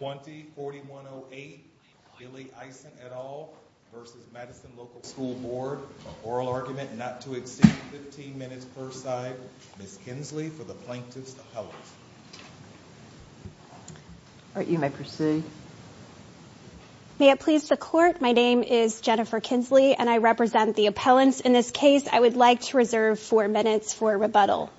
20-4108 Billy Ison et al. v. Madison Local School Board for oral argument not to exceed 15 minutes per side. Ms. Kinsley for the plaintiff's appellate. All right, you may proceed. May it please the court, my name is Jennifer Kinsley and I represent the appellants in this case. I would like to reserve four minutes for rebuttal.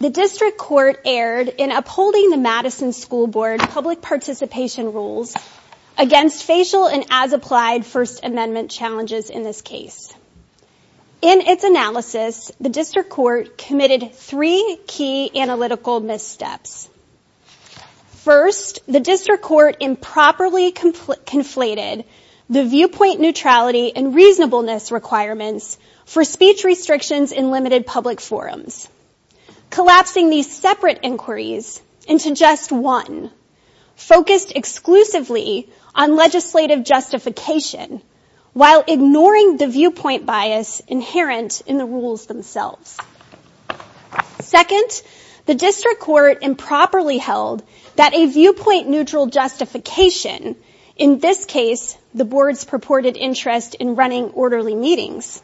The district court erred in upholding the Madison School Board public participation rules against facial and as-applied First Amendment challenges in this case. In its analysis, the district court committed three key analytical missteps. First, the district court improperly conflated the viewpoint neutrality and reasonableness requirements for speech restrictions in limited public forums, collapsing these separate inquiries into just one focused exclusively on legislative justification while ignoring the viewpoint bias inherent in the rules themselves. Second, the district court improperly held that a viewpoint interest in running orderly meetings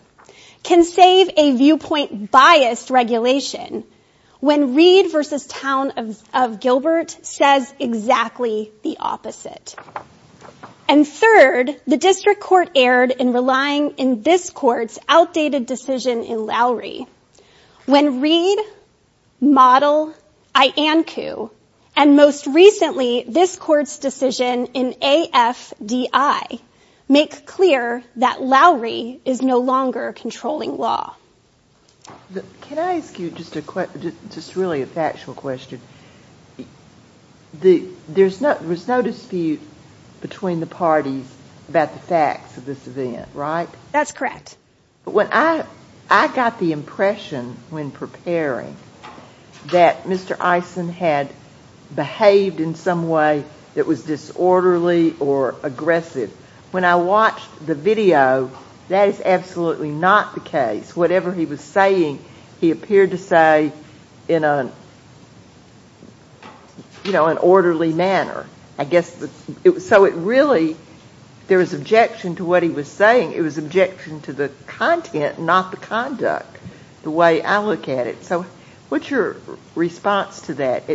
can save a viewpoint bias regulation when Reed v. Town of Gilbert says exactly the opposite. And third, the district court erred in relying in this court's outdated decision in Lowry when Reed, Model, Iancu, and most recently this court's decision in AFDI make clear that Lowry is no longer controlling law. Can I ask you just really a factual question? There was no dispute between the parties about the facts of this event, right? That's correct. I got the impression when preparing that Mr. Eisen had behaved in some way that was disorderly or aggressive. When I watched the video, that is absolutely not the case. Whatever he was saying, he appeared to say in an orderly manner. So it really, there was objection to what he was saying. It was objection to the content, not the conduct, the way I look at it. So what's your response to that?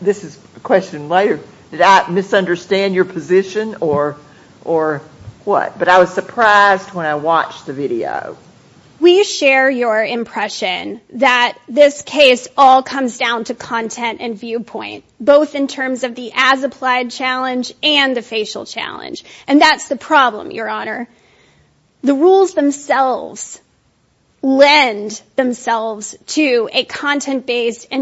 This is a question later. Did I misunderstand your position or what? But I was surprised when I watched the video. We share your impression that this case all comes down to content and viewpoint, both in terms of the as-applied challenge and the facial challenge. And that's the problem,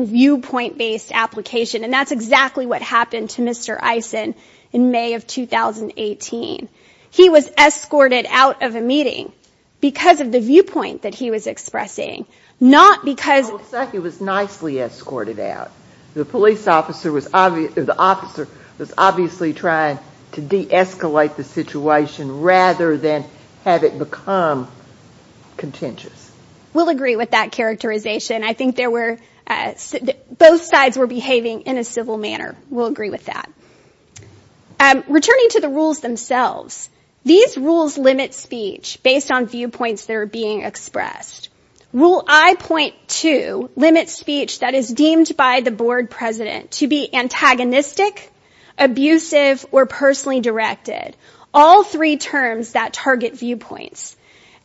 viewpoint-based application. And that's exactly what happened to Mr. Eisen in May of 2018. He was escorted out of a meeting because of the viewpoint that he was expressing, not because... It looks like he was nicely escorted out. The police officer was obviously trying to de-escalate the situation rather than have it become contentious. We'll agree with that characterization. I think both sides were behaving in a civil manner. We'll agree with that. Returning to the rules themselves, these rules limit speech based on viewpoints that are being expressed. Rule I.2 limits speech that is deemed by the board president to be antagonistic, abusive, or personally directed. All three terms that target viewpoints.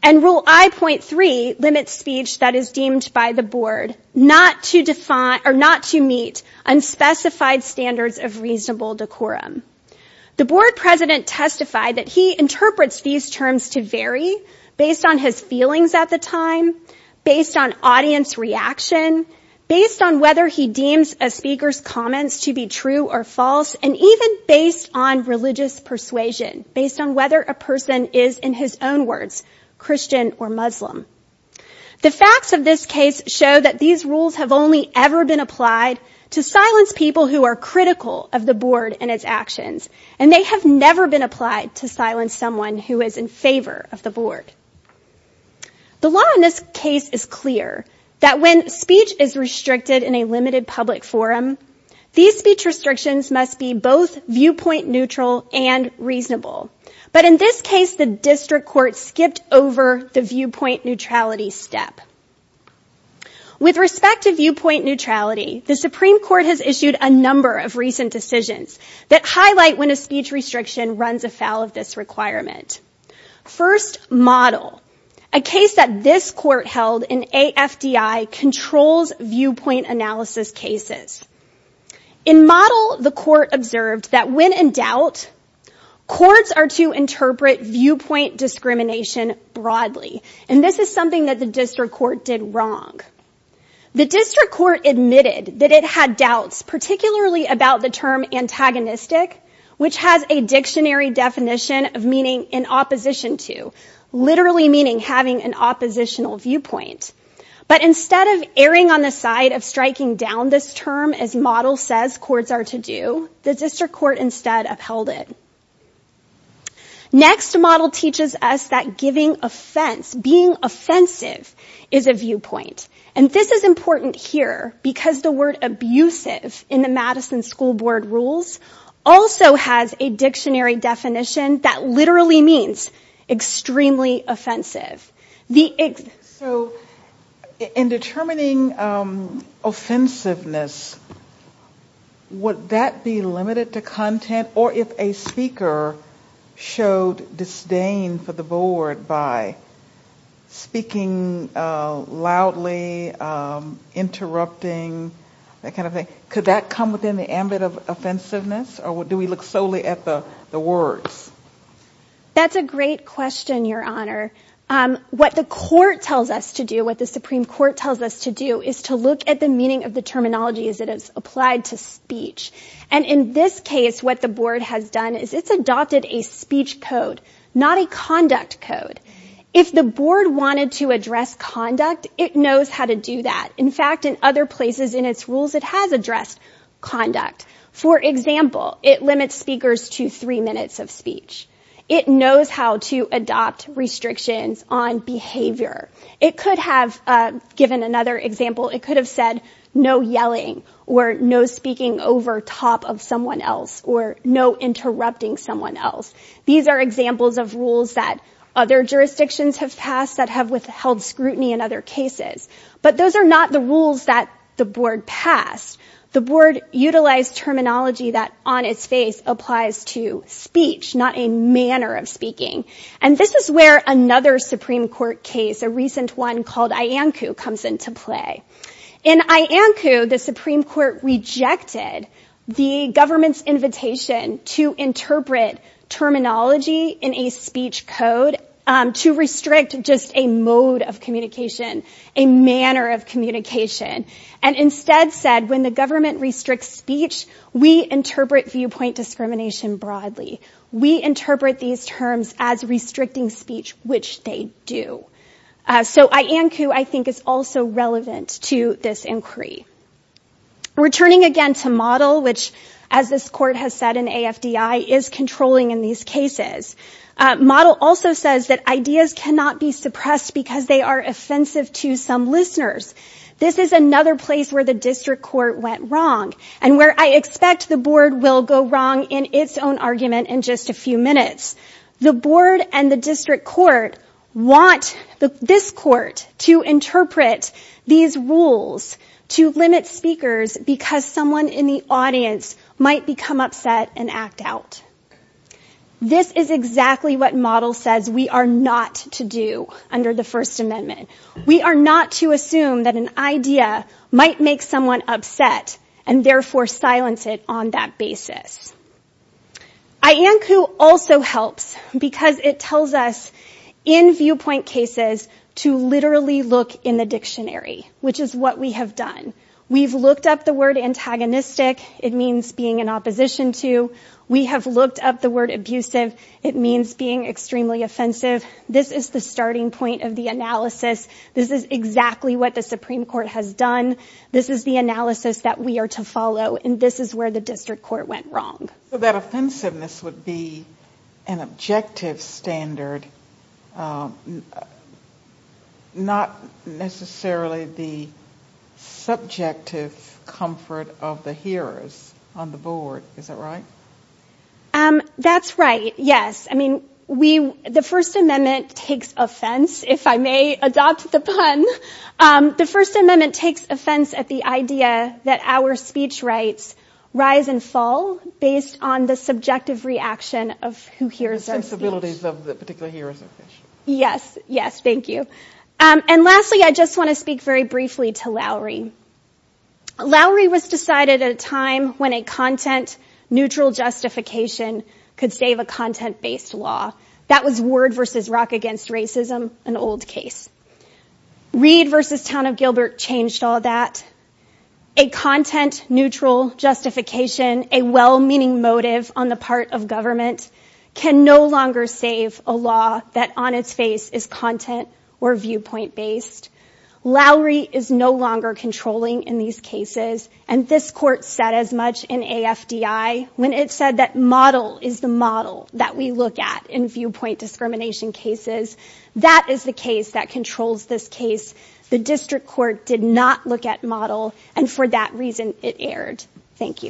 And Rule I.3 limits speech that is deemed by the board not to meet unspecified standards of reasonable decorum. The board president testified that he interprets these terms to vary based on his feelings at the and even based on religious persuasion, based on whether a person is, in his own words, Christian or Muslim. The facts of this case show that these rules have only ever been applied to silence people who are critical of the board and its actions. And they have never been applied to silence someone who is in favor of the board. The law in this case is clear, that when speech is restricted in a limited public forum, these speech restrictions must be both viewpoint neutral and reasonable. But in this case, the district court skipped over the viewpoint neutrality step. With respect to viewpoint neutrality, the Supreme Court has issued a number of recent decisions that highlight when a speech restriction runs afoul of this requirement. First, model. A case that this court held in AFDI controls viewpoint analysis cases. In model, the court observed that when in doubt, courts are to interpret viewpoint discrimination broadly. And this is something that the district court did wrong. The district court admitted that it had doubts, particularly about the term antagonistic, which has a dictionary definition of meaning in opposition to, literally meaning having an oppositional viewpoint. But instead of erring on the side of striking down this term, as model says courts are to do, the district court instead upheld it. Next, model teaches us that giving offense, being offensive is a viewpoint. And this is important here because the word abusive in the Madison School Board rules also has a dictionary definition that literally means extremely offensive. So in determining offensiveness, would that be limited to content? Or if a speaker showed disdain for the board by speaking loudly, interrupting, that kind of thing, could that come within the ambit of offensiveness? Or do we look solely at the words? That's a great question, Your Honor. What the court tells us to do, what the Supreme Court tells us to do is to look at the meaning of the terminology as it is applied to speech. And in this case, what the board has done is it's adopted a speech code, not a conduct code. If the board wanted to address conduct, it knows how to do that. In fact, in other places in its conduct, for example, it limits speakers to three minutes of speech. It knows how to adopt restrictions on behavior. It could have given another example. It could have said no yelling or no speaking over top of someone else or no interrupting someone else. These are examples of rules that other jurisdictions have passed that have withheld scrutiny in other cases. But those are not the rules that the board passed. The board utilized terminology that on its face applies to speech, not a manner of speaking. And this is where another Supreme Court case, a recent one called Iancu, comes into play. In Iancu, the Supreme Court rejected the government's invitation to interpret terminology in a speech code to restrict just a mode of communication, a manner of communication, and instead said, when the government restricts speech, we interpret viewpoint discrimination broadly. We interpret these terms as restricting speech, which they do. So Iancu, I think, is also relevant to this inquiry. Returning again to model, which as this court has said in AFDI, is controlling in these cases. Model also says that ideas cannot be suppressed because they are offensive to some listeners. This is another place where the district court went wrong and where I expect the board will go wrong in its own argument in just a few minutes. The board and the district court want this court to interpret these rules to limit speakers because someone in the audience might become upset and act out. This is exactly what model says we are not to do under the First Amendment. We are not to assume that an idea might make someone upset and therefore silence it on that basis. Iancu also helps because it tells us in viewpoint cases to literally look in the dictionary, which is what we have done. We've looked up the word antagonistic. It means being in opposition to. We have looked up the word abusive. It means being extremely offensive. This is the starting point of the analysis. This is exactly what the Supreme Court has done. This is the analysis that we are to follow, and this is where the district court went wrong. So that offensiveness would be an objective standard, not necessarily the subjective comfort of the hearers on the board. Is that right? That's right. Yes. I mean, the First Amendment takes offense, if I may adopt the pun. The First Amendment takes offense at the idea that our speech rights rise and fall based on the subjective reaction of who hears our speech. Yes. Yes. Thank you. And lastly, I just want to speak very briefly to Lowry. Lowry was decided at a time when a content-neutral justification could save a content-based law. That was Word v. Rock Against Racism, an old case. Reed v. Town of Gilbert changed all that. A content-neutral justification, a well-meaning motive on the part of government, can no longer save a law that on its face is content or viewpoint-based. Lowry is no longer controlling in these cases, and this court said as much in AFDI when it said that model is the model that we look at in viewpoint discrimination cases. That is the case that controls this case. The district court did not look at model, and for that reason, it did not. Okay.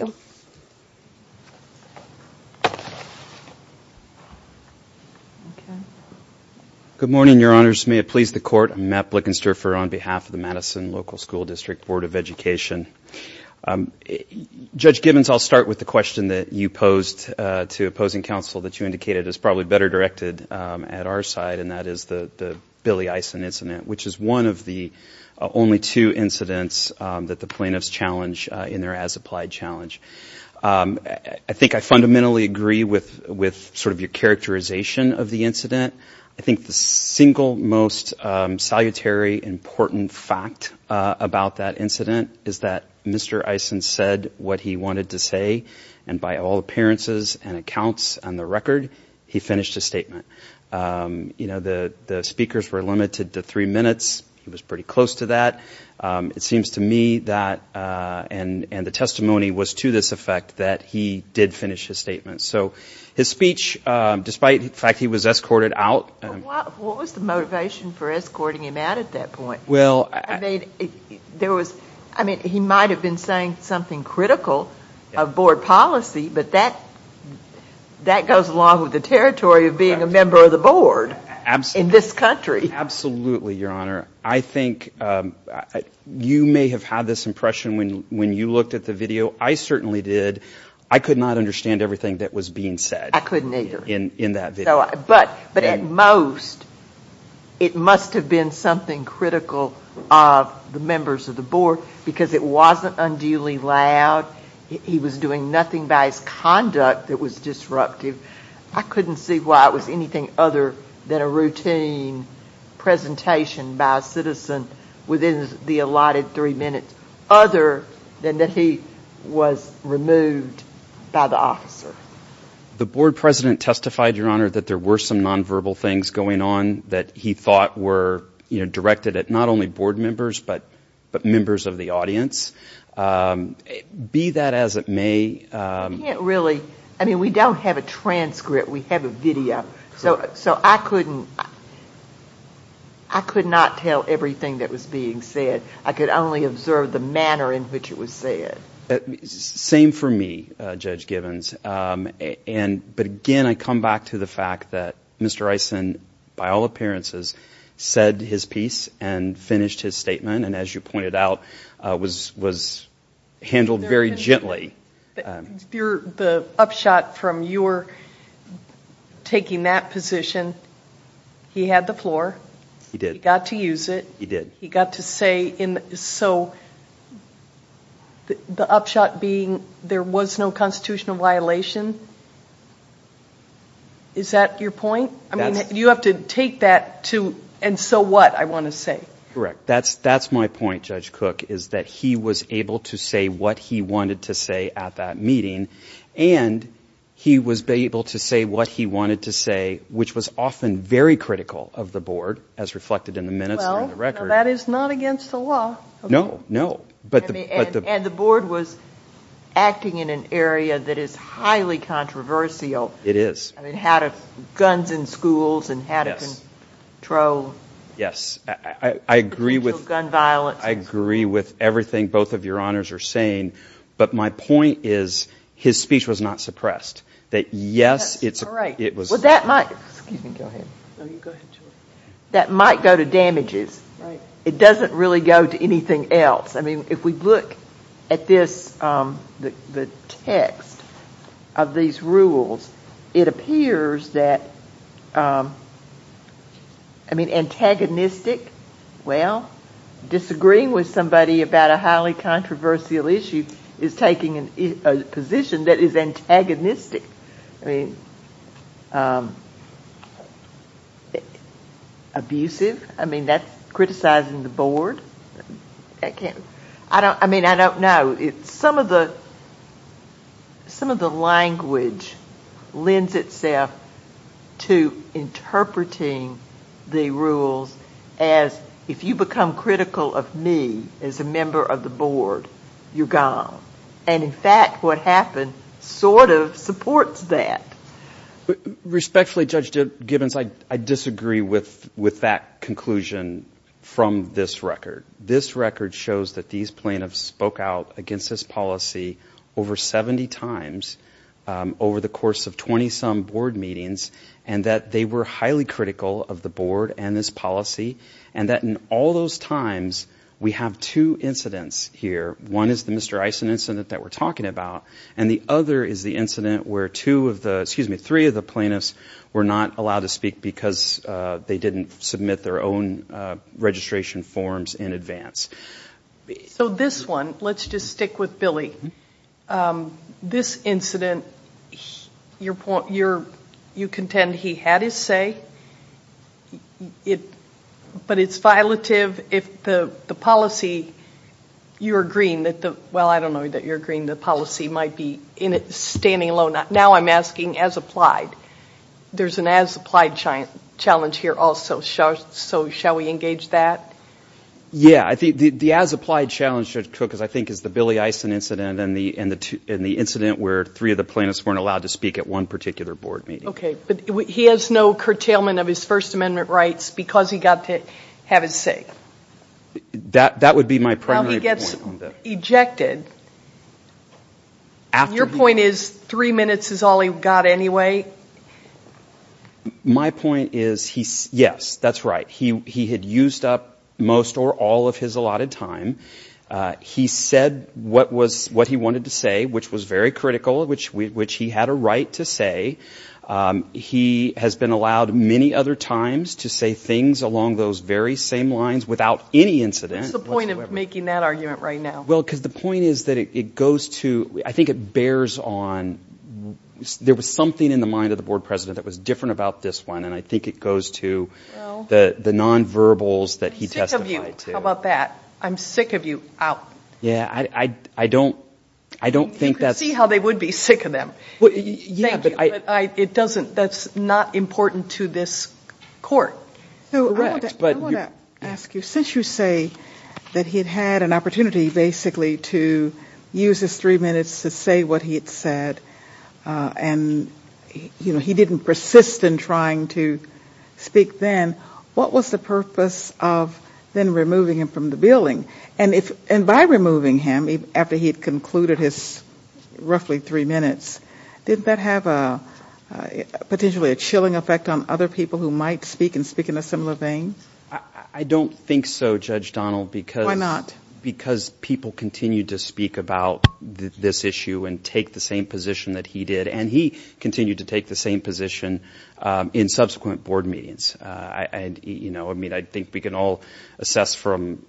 Good morning, Your Honors. May it please the court, I'm Matt Blickenster on behalf of the Madison Local School District Board of Education. Judge Gibbons, I'll start with the question that you posed to opposing counsel that you indicated is probably better directed at our side, and that is the Billy Eisen incident, which is one of the only two incidents that the I think I fundamentally agree with sort of your characterization of the incident. I think the single most salutary important fact about that incident is that Mr. Eisen said what he wanted to say, and by all appearances and accounts on the record, he finished his statement. You know, the speakers were limited to three minutes. He was pretty close to that. It seems to me that, and the testimony was to this effect, that he did finish his statement. So his speech, despite the fact he was escorted out. What was the motivation for escorting him out at that point? Well, I mean, there was, I mean, he might have been saying something critical of board policy, but that goes along with the territory of being a member of the board in this country. Absolutely, Your Honor. I think you may have had this impression when you looked at the video. I certainly did. I could not understand everything that was being said. I couldn't either. In that video. But at most, it must have been something critical of the members of the board because it wasn't unduly loud. He was doing nothing by his conduct that was disruptive. I couldn't see why it was anything other than a routine presentation by a citizen within the allotted three minutes, other than that he was removed by the officer. The board president testified, Your Honor, that there were some nonverbal things going on that he thought were, you know, directed at not only board members, but members of the audience. Be that as it may. I can't really, I mean, we don't have a transcript. We have a video. So I couldn't, I could not tell everything that was being said. I could only observe the manner in which it was said. Same for me, Judge Givens. But again, I come back to the fact that Mr. Eisen, by all appearances, said his piece and finished his statement. And as you pointed out, was handled very gently. Your, the upshot from your taking that position, he had the floor. He did. He got to use it. He did. He got to say in, so the upshot being there was no constitutional violation. Is that your point? I mean, you have to take that to, and so what, I want to say. Correct. That's, that's my point, Judge Cook, is that he was able to say what he wanted to say at that meeting. And he was able to say what he wanted to say, which was often very critical of the board, as reflected in the minutes and the record. That is not against the law. No, no. But the, but the. And the board was acting in an area that is highly controversial. It is. I mean, how to, guns in schools and how to control. Yes, I agree with. Gun violence. I agree with everything both of your honors are saying, but my point is his speech was not suppressed. That yes, it's. All right. It was. Well, that might, excuse me, go ahead. That might go to damages. Right. It doesn't really go to anything else. I mean, if we look at this, the text of these rules, it appears that, I mean, antagonistic. Well, disagreeing with somebody about a highly controversial issue is taking a position that is antagonistic. I mean, abusive. I mean, that's criticizing the board. I can't, I don't, I mean, I don't know. It's some of the, some of the language lends itself to interpreting the rules as if you become critical of me as a member of the board, you're gone. And in fact, what happened sort of supports that. Respectfully, Judge Gibbons, I disagree with, with that conclusion from this record. This record shows that these plaintiffs spoke out against this policy over 70 times over the course of 20-some board meetings, and that they were highly critical of the board and this policy, and that in all those times, we have two incidents here. One is the Mr. Eisen incident that we're talking about, and the other is the incident where two of the, excuse me, three of the plaintiffs were not allowed to speak because they didn't submit their own registration forms in advance. So this one, let's just stick with Billy. This incident, your point, you're, you contend he had his say. It, but it's violative if the, the policy, you're agreeing that the, well, I don't know that you're agreeing the policy might be in it, standing alone. Now I'm asking as applied. There's an as applied challenge here also, so shall we engage that? Yeah, I think the, the as applied challenge, Judge Cook, is I think is the Billy Eisen incident and the, and the two, and the incident where three of the plaintiffs weren't allowed to speak at one particular board meeting. Okay, but he has no curtailment of his First Amendment rights because he got to have his say. That, that would be my primary point. Ejected. Your point is three minutes is all he got anyway? My point is he, yes, that's right. He, he had used up most or all of his allotted time. He said what was, what he wanted to say, which was very critical, which we, which he had a right to say. He has been allowed many other times to say things along those very same lines without any incident. What's the point of making that argument right now? Well, because the point is that it goes to, I think it bears on, there was something in the mind of the board president that was different about this one, and I think it goes to the, the non-verbals that he testified to. How about that? I'm sick of you out. Yeah, I, I, I don't, I don't think that's. You could see how they would be sick of them. Well, yeah, but I. It doesn't, that's not important to this court. So I want to, I want to ask you, since you say that he had had an opportunity basically to use his three minutes to say what he had said and, you know, he didn't persist in trying to speak then, what was the purpose of then removing him from the building? And if, and by removing him after he had concluded his roughly three minutes, didn't that have a potentially a chilling effect on other people who might speak and speak in a similar vein? I don't think so, Judge Donald, because. Why not? Because people continue to speak about this issue and take the same position that he did, and he continued to take the same position in subsequent board meetings. And, you know, I mean, I think we can all assess from,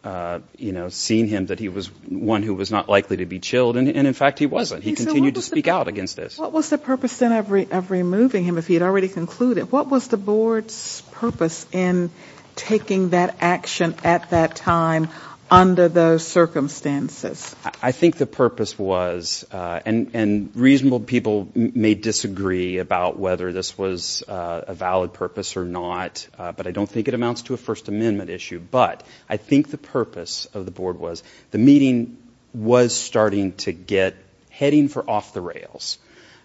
you know, seeing him that he was one who was not likely to be chilled. And in fact, he wasn't. He continued to speak out against this. What was the purpose then of removing him if he had already concluded? What was the board's purpose in taking that action at that time under those circumstances? I think the purpose was, and reasonable people may disagree about whether this was a valid purpose or not, but I don't think it amounts to a First Amendment issue. But I think the purpose of the board was the meeting was starting to get heading for off the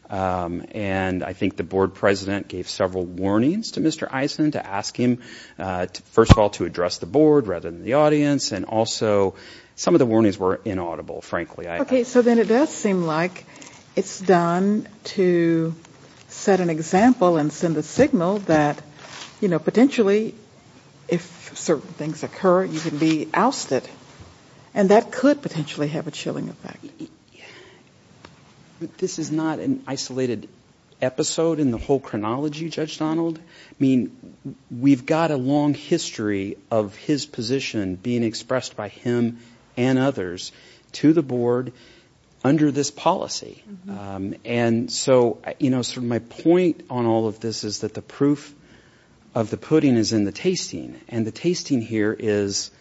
and I think the board president gave several warnings to Mr. Eisen to ask him, first of all, to address the board rather than the audience. And also some of the warnings were inaudible, frankly. OK, so then it does seem like it's done to set an example and send the signal that, you know, potentially if certain things occur, you can be ousted and that could potentially have a chilling effect. Yeah, this is not an isolated episode in the whole chronology, Judge Donald. I mean, we've got a long history of his position being expressed by him and others to the board under this policy. And so, you know, sort of my point on all of this is that the proof of the pudding is in the tasting and the tasting here is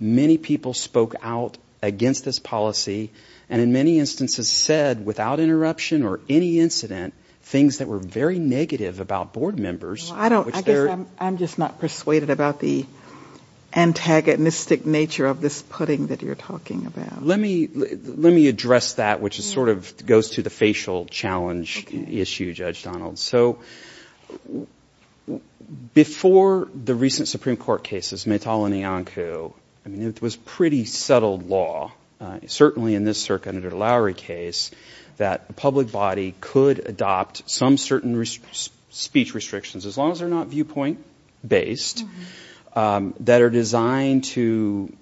many people spoke out against this policy and in many instances said without interruption or any incident, things that were very negative about board members. I'm just not persuaded about the antagonistic nature of this pudding that you're talking about. Let me address that, which is sort of goes to the facial challenge issue, Judge Donald. So before the recent Supreme Court cases, Maytala and Iancu, I mean, it was pretty settled law, certainly in this circuit under the Lowry case, that a public body could adopt some certain speech restrictions, as long as they're not viewpoint based, that are designed to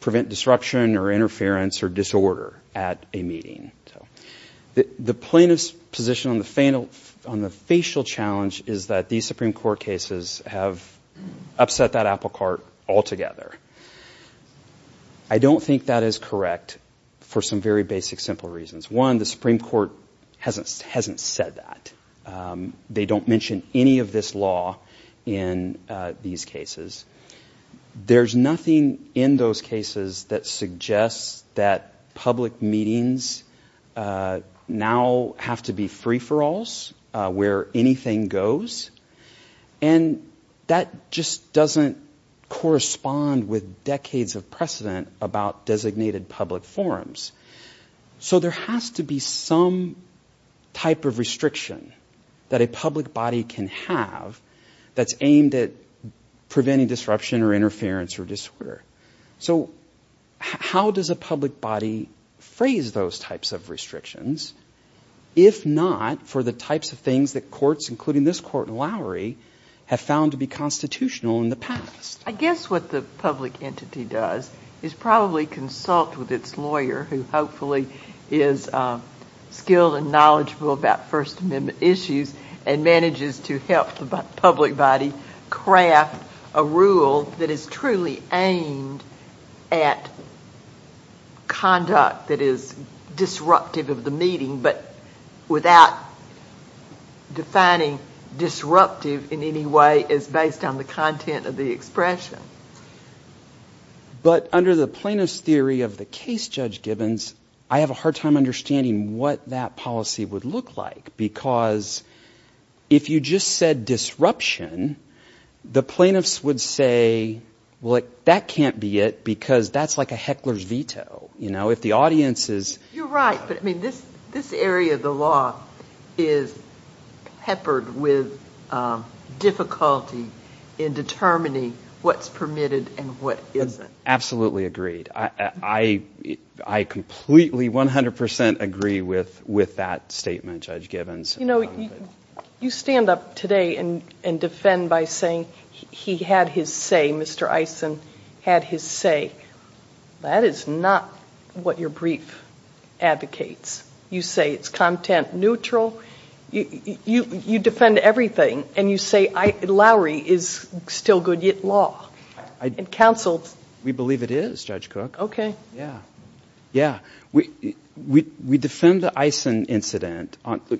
prevent disruption or interference or disorder at a meeting. The plaintiff's position on the facial challenge is that these Supreme Court cases have upset that apple cart altogether. I don't think that is correct for some very basic, simple reasons. One, the Supreme Court hasn't said that. They don't mention any of this law in these cases. There's nothing in those cases that suggests that public meetings now have to be free-for-alls where anything goes. And that just doesn't correspond with decades of precedent about designated public forums. So there has to be some type of restriction that a public body can have that's aimed at preventing disruption or interference or disorder. So how does a public body phrase those types of restrictions, if not for the types of things that courts, including this court in Lowry, have found to be constitutional in the past? I guess what the public entity does is probably consult with its lawyer, who hopefully is skilled and knowledgeable about First Amendment issues, and manages to help the public body craft a rule that is truly aimed at conduct that is disruptive of the meeting, but without defining disruptive in any way as based on the content of the expression. But under the plaintiff's theory of the case, Judge Gibbons, I have a hard time understanding what that policy would look like, because if you just said disruption, the plaintiffs would say, well, that can't be it, because that's like a heckler's veto. You're right, but this area of the law is peppered with difficulty in determining what's permitted and what isn't. Absolutely agreed. I completely, 100 percent agree with that statement, Judge Gibbons. You know, you stand up today and defend by saying he had his say, Mr. Eisen had his say. That is not what your brief advocates. You say it's content neutral. You defend everything, and you say Lowry is still Goodyear law and counseled. We believe it is, Judge Cook. Okay. Yeah, yeah. We defend the Eisen incident. Let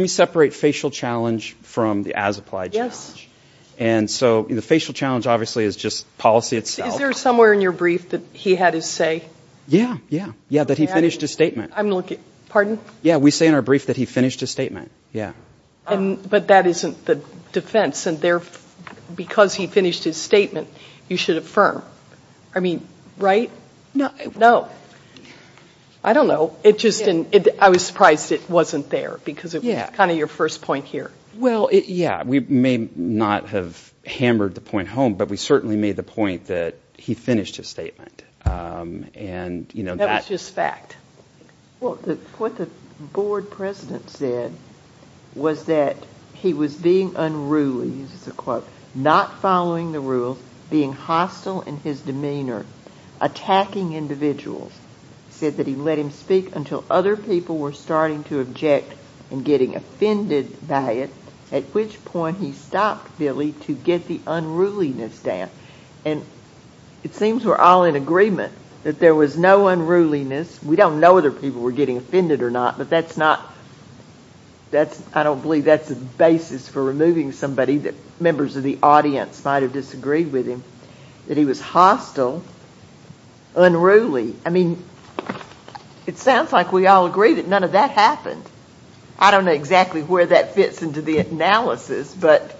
me separate facial challenge from the as-applied challenge. Yes. And so the facial challenge, obviously, is just policy itself. Is there somewhere in your brief that he had his say? Yeah, yeah, yeah, that he finished his statement. I'm looking, pardon? Yeah, we say in our brief that he finished his statement, yeah. But that isn't the defense, and because he finished his statement, you should affirm. I mean, right? No. I don't know. It just didn't, I was surprised it wasn't there, because it was kind of your first point here. Well, yeah, we may not have hammered the point home, but we certainly made the point that he finished his statement. And, you know, That was just fact. Well, what the board president said was that he was being unruly, he uses a quote, not following the rules, being hostile in his demeanor, attacking individuals. He said that he let him speak until other people were starting to object and getting offended by it, at which point he stopped Billy to get the unruliness down. And it seems we're all in agreement that there was no unruliness. We don't know whether people were getting offended or not, but that's not, that's, I don't believe that's the basis for removing somebody that members of the audience might have disagreed with him, that he was hostile, unruly. I mean, it sounds like we all agree that none of that happened. I don't know exactly where that fits into the analysis, but.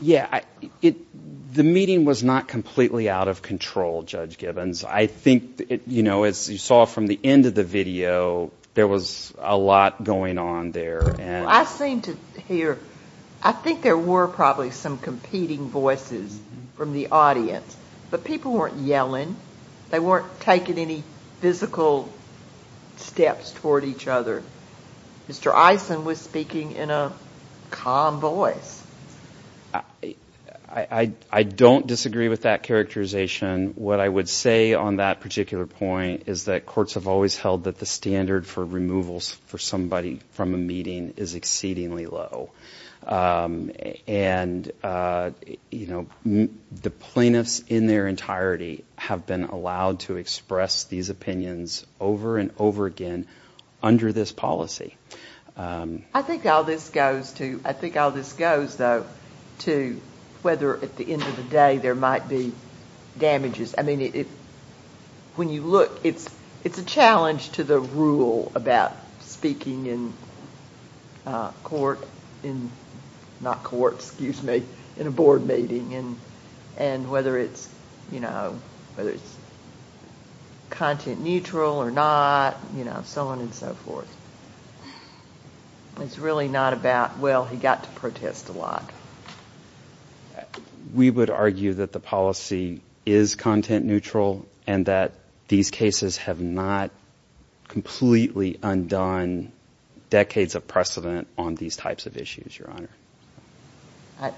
Yeah, the meeting was not completely out of control, Judge Gibbons. I think, you know, as you saw from the end of the video, there was a lot going on there. I seem to hear, I think there were probably some competing voices from the audience, but people weren't yelling. They weren't taking any physical steps toward each other. Mr. Eisen was speaking in a calm voice. I don't disagree with that characterization. What I would say on that particular point is that courts have always held that the standard for removals for somebody from a meeting is exceedingly low. And, you know, the plaintiffs in their entirety have been allowed to express these opinions over and over again under this policy. I think all this goes to, I think all this goes, though, to whether at the end of the day, there might be damages. I mean, when you look, it's a challenge to the rule about speaking in court in, not court, excuse me, in a board meeting and whether it's, you know, whether it's content neutral or not, you know, so on and so forth. It's really not about, well, he got to protest a lot. We would argue that the policy is content neutral and that these cases have not completely undone decades of precedent on these types of issues, Your Honor.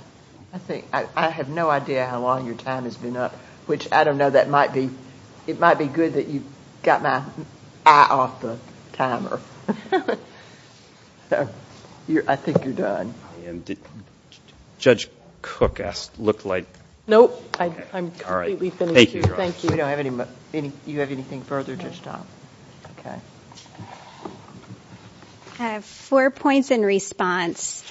I think, I have no idea how long your time has been up, which I don't know, that might be, it might be good that you got my eye off the timer. I think you're done. Judge Cook asked, looked like. Nope, I'm completely finished here. Thank you. You don't have any, you have anything further to stop? Okay. I have four points in response.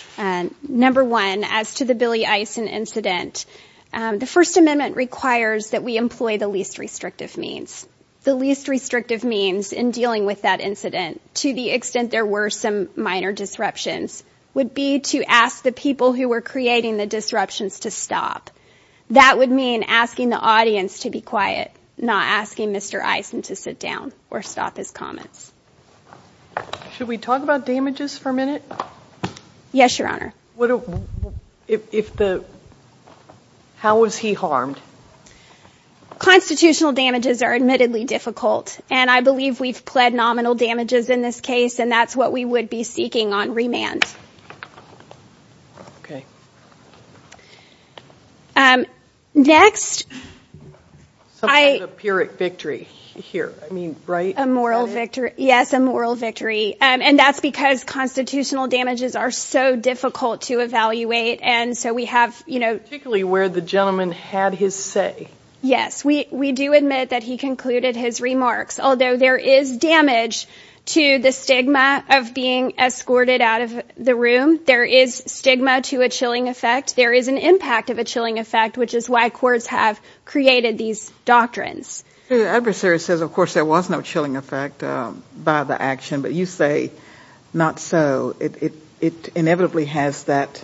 Number one, as to the Billy Eisen incident, the First Amendment requires that we employ the least restrictive means. The least restrictive means in dealing with that incident, to the extent there were some minor disruptions, would be to ask the people who were creating the disruptions to stop. That would mean asking the audience to be quiet, not asking Mr. Eisen to sit down or stop his comments. Should we talk about damages for a minute? Yes, Your Honor. What, if the, how was he harmed? Constitutional damages are admittedly difficult, and I believe we've pled nominal damages in this case, and that's what we would be seeking on remand. Okay. Next, I. Something to appear at victory here, I mean, right? A moral victory. Yes, a moral victory. And that's because constitutional damages are so difficult to evaluate. And so we have, you know. Particularly where the gentleman had his say. Yes, we do admit that he concluded his remarks, although there is damage to the stigma of being escorted out of the room. There is stigma to a chilling effect. There is an impact of a chilling effect, which is why courts have created these doctrines. The adversary says, of course, there was no chilling effect by the action, but you say not so. It inevitably has that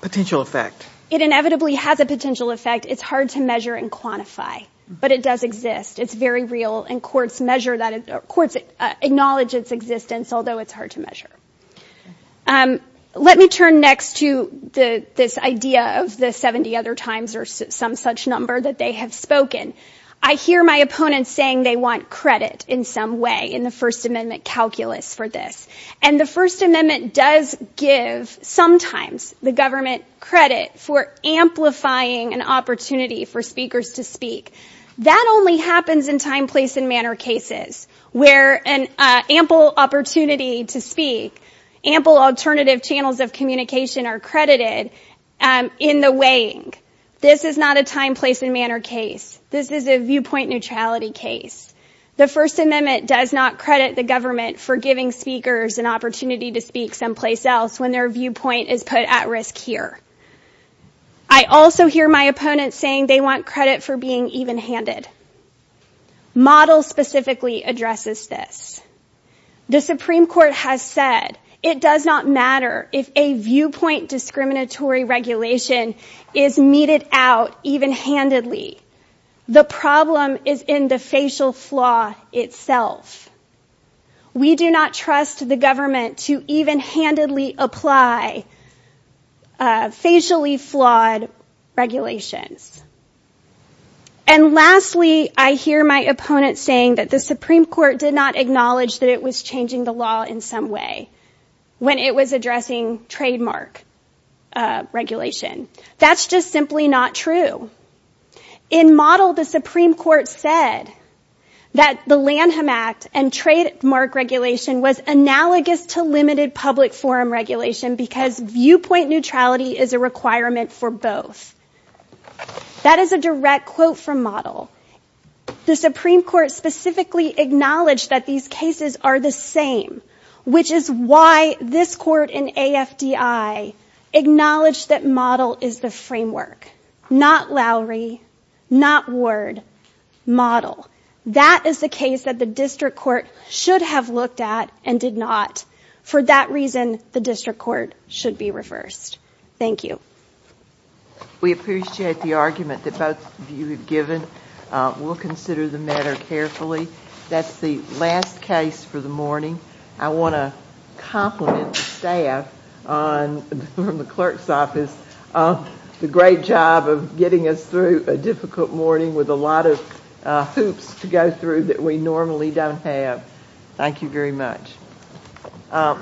potential effect. It inevitably has a potential effect. It's hard to measure and quantify, but it does exist. It's very real, and courts measure that, courts acknowledge its existence, although it's hard to measure. Let me turn next to the, this idea of the 70 other times or some such number that they have spoken. I hear my opponents saying they want credit in some way in the First Amendment calculus for this. And the First Amendment does give, sometimes, the government credit for amplifying an opportunity for speakers to speak. That only happens in time, place, and manner cases, where an ample opportunity to speak, ample alternative channels of communication are credited in the weighing. This is not a time, place, and manner case. This is a viewpoint neutrality case. The First Amendment does not credit the government for giving speakers an opportunity to speak someplace else when their viewpoint is put at risk here. I also hear my opponents saying they want credit for being even-handed. Model specifically addresses this. The Supreme Court has said it does not matter if a viewpoint discriminatory regulation is meted out even-handedly. The problem is in the facial flaw itself. We do not trust the government to even-handedly apply facially flawed regulations. And lastly, I hear my opponents saying that the Supreme Court did not acknowledge that it was changing the law in some way when it was addressing trademark regulation. That's just simply not true. In Model, the Supreme Court said that the Lanham Act and trademark regulation was analogous to limited public forum regulation because viewpoint neutrality is a requirement for both. That is a direct quote from Model. The Supreme Court specifically acknowledged that these cases are the same, which is why this Court in AFDI acknowledged that Model is the framework, not Lowry, not Ward, Model. That is the case that the District Court should have looked at and did not. For that reason, the District Court should be reversed. Thank you. We appreciate the argument that both of you have given. We'll consider the matter carefully. That's the last case for the morning. I want to compliment the staff from the clerk's office on the great job of getting us through a difficult morning with a lot of hoops to go through that we normally don't have. Thank you very much.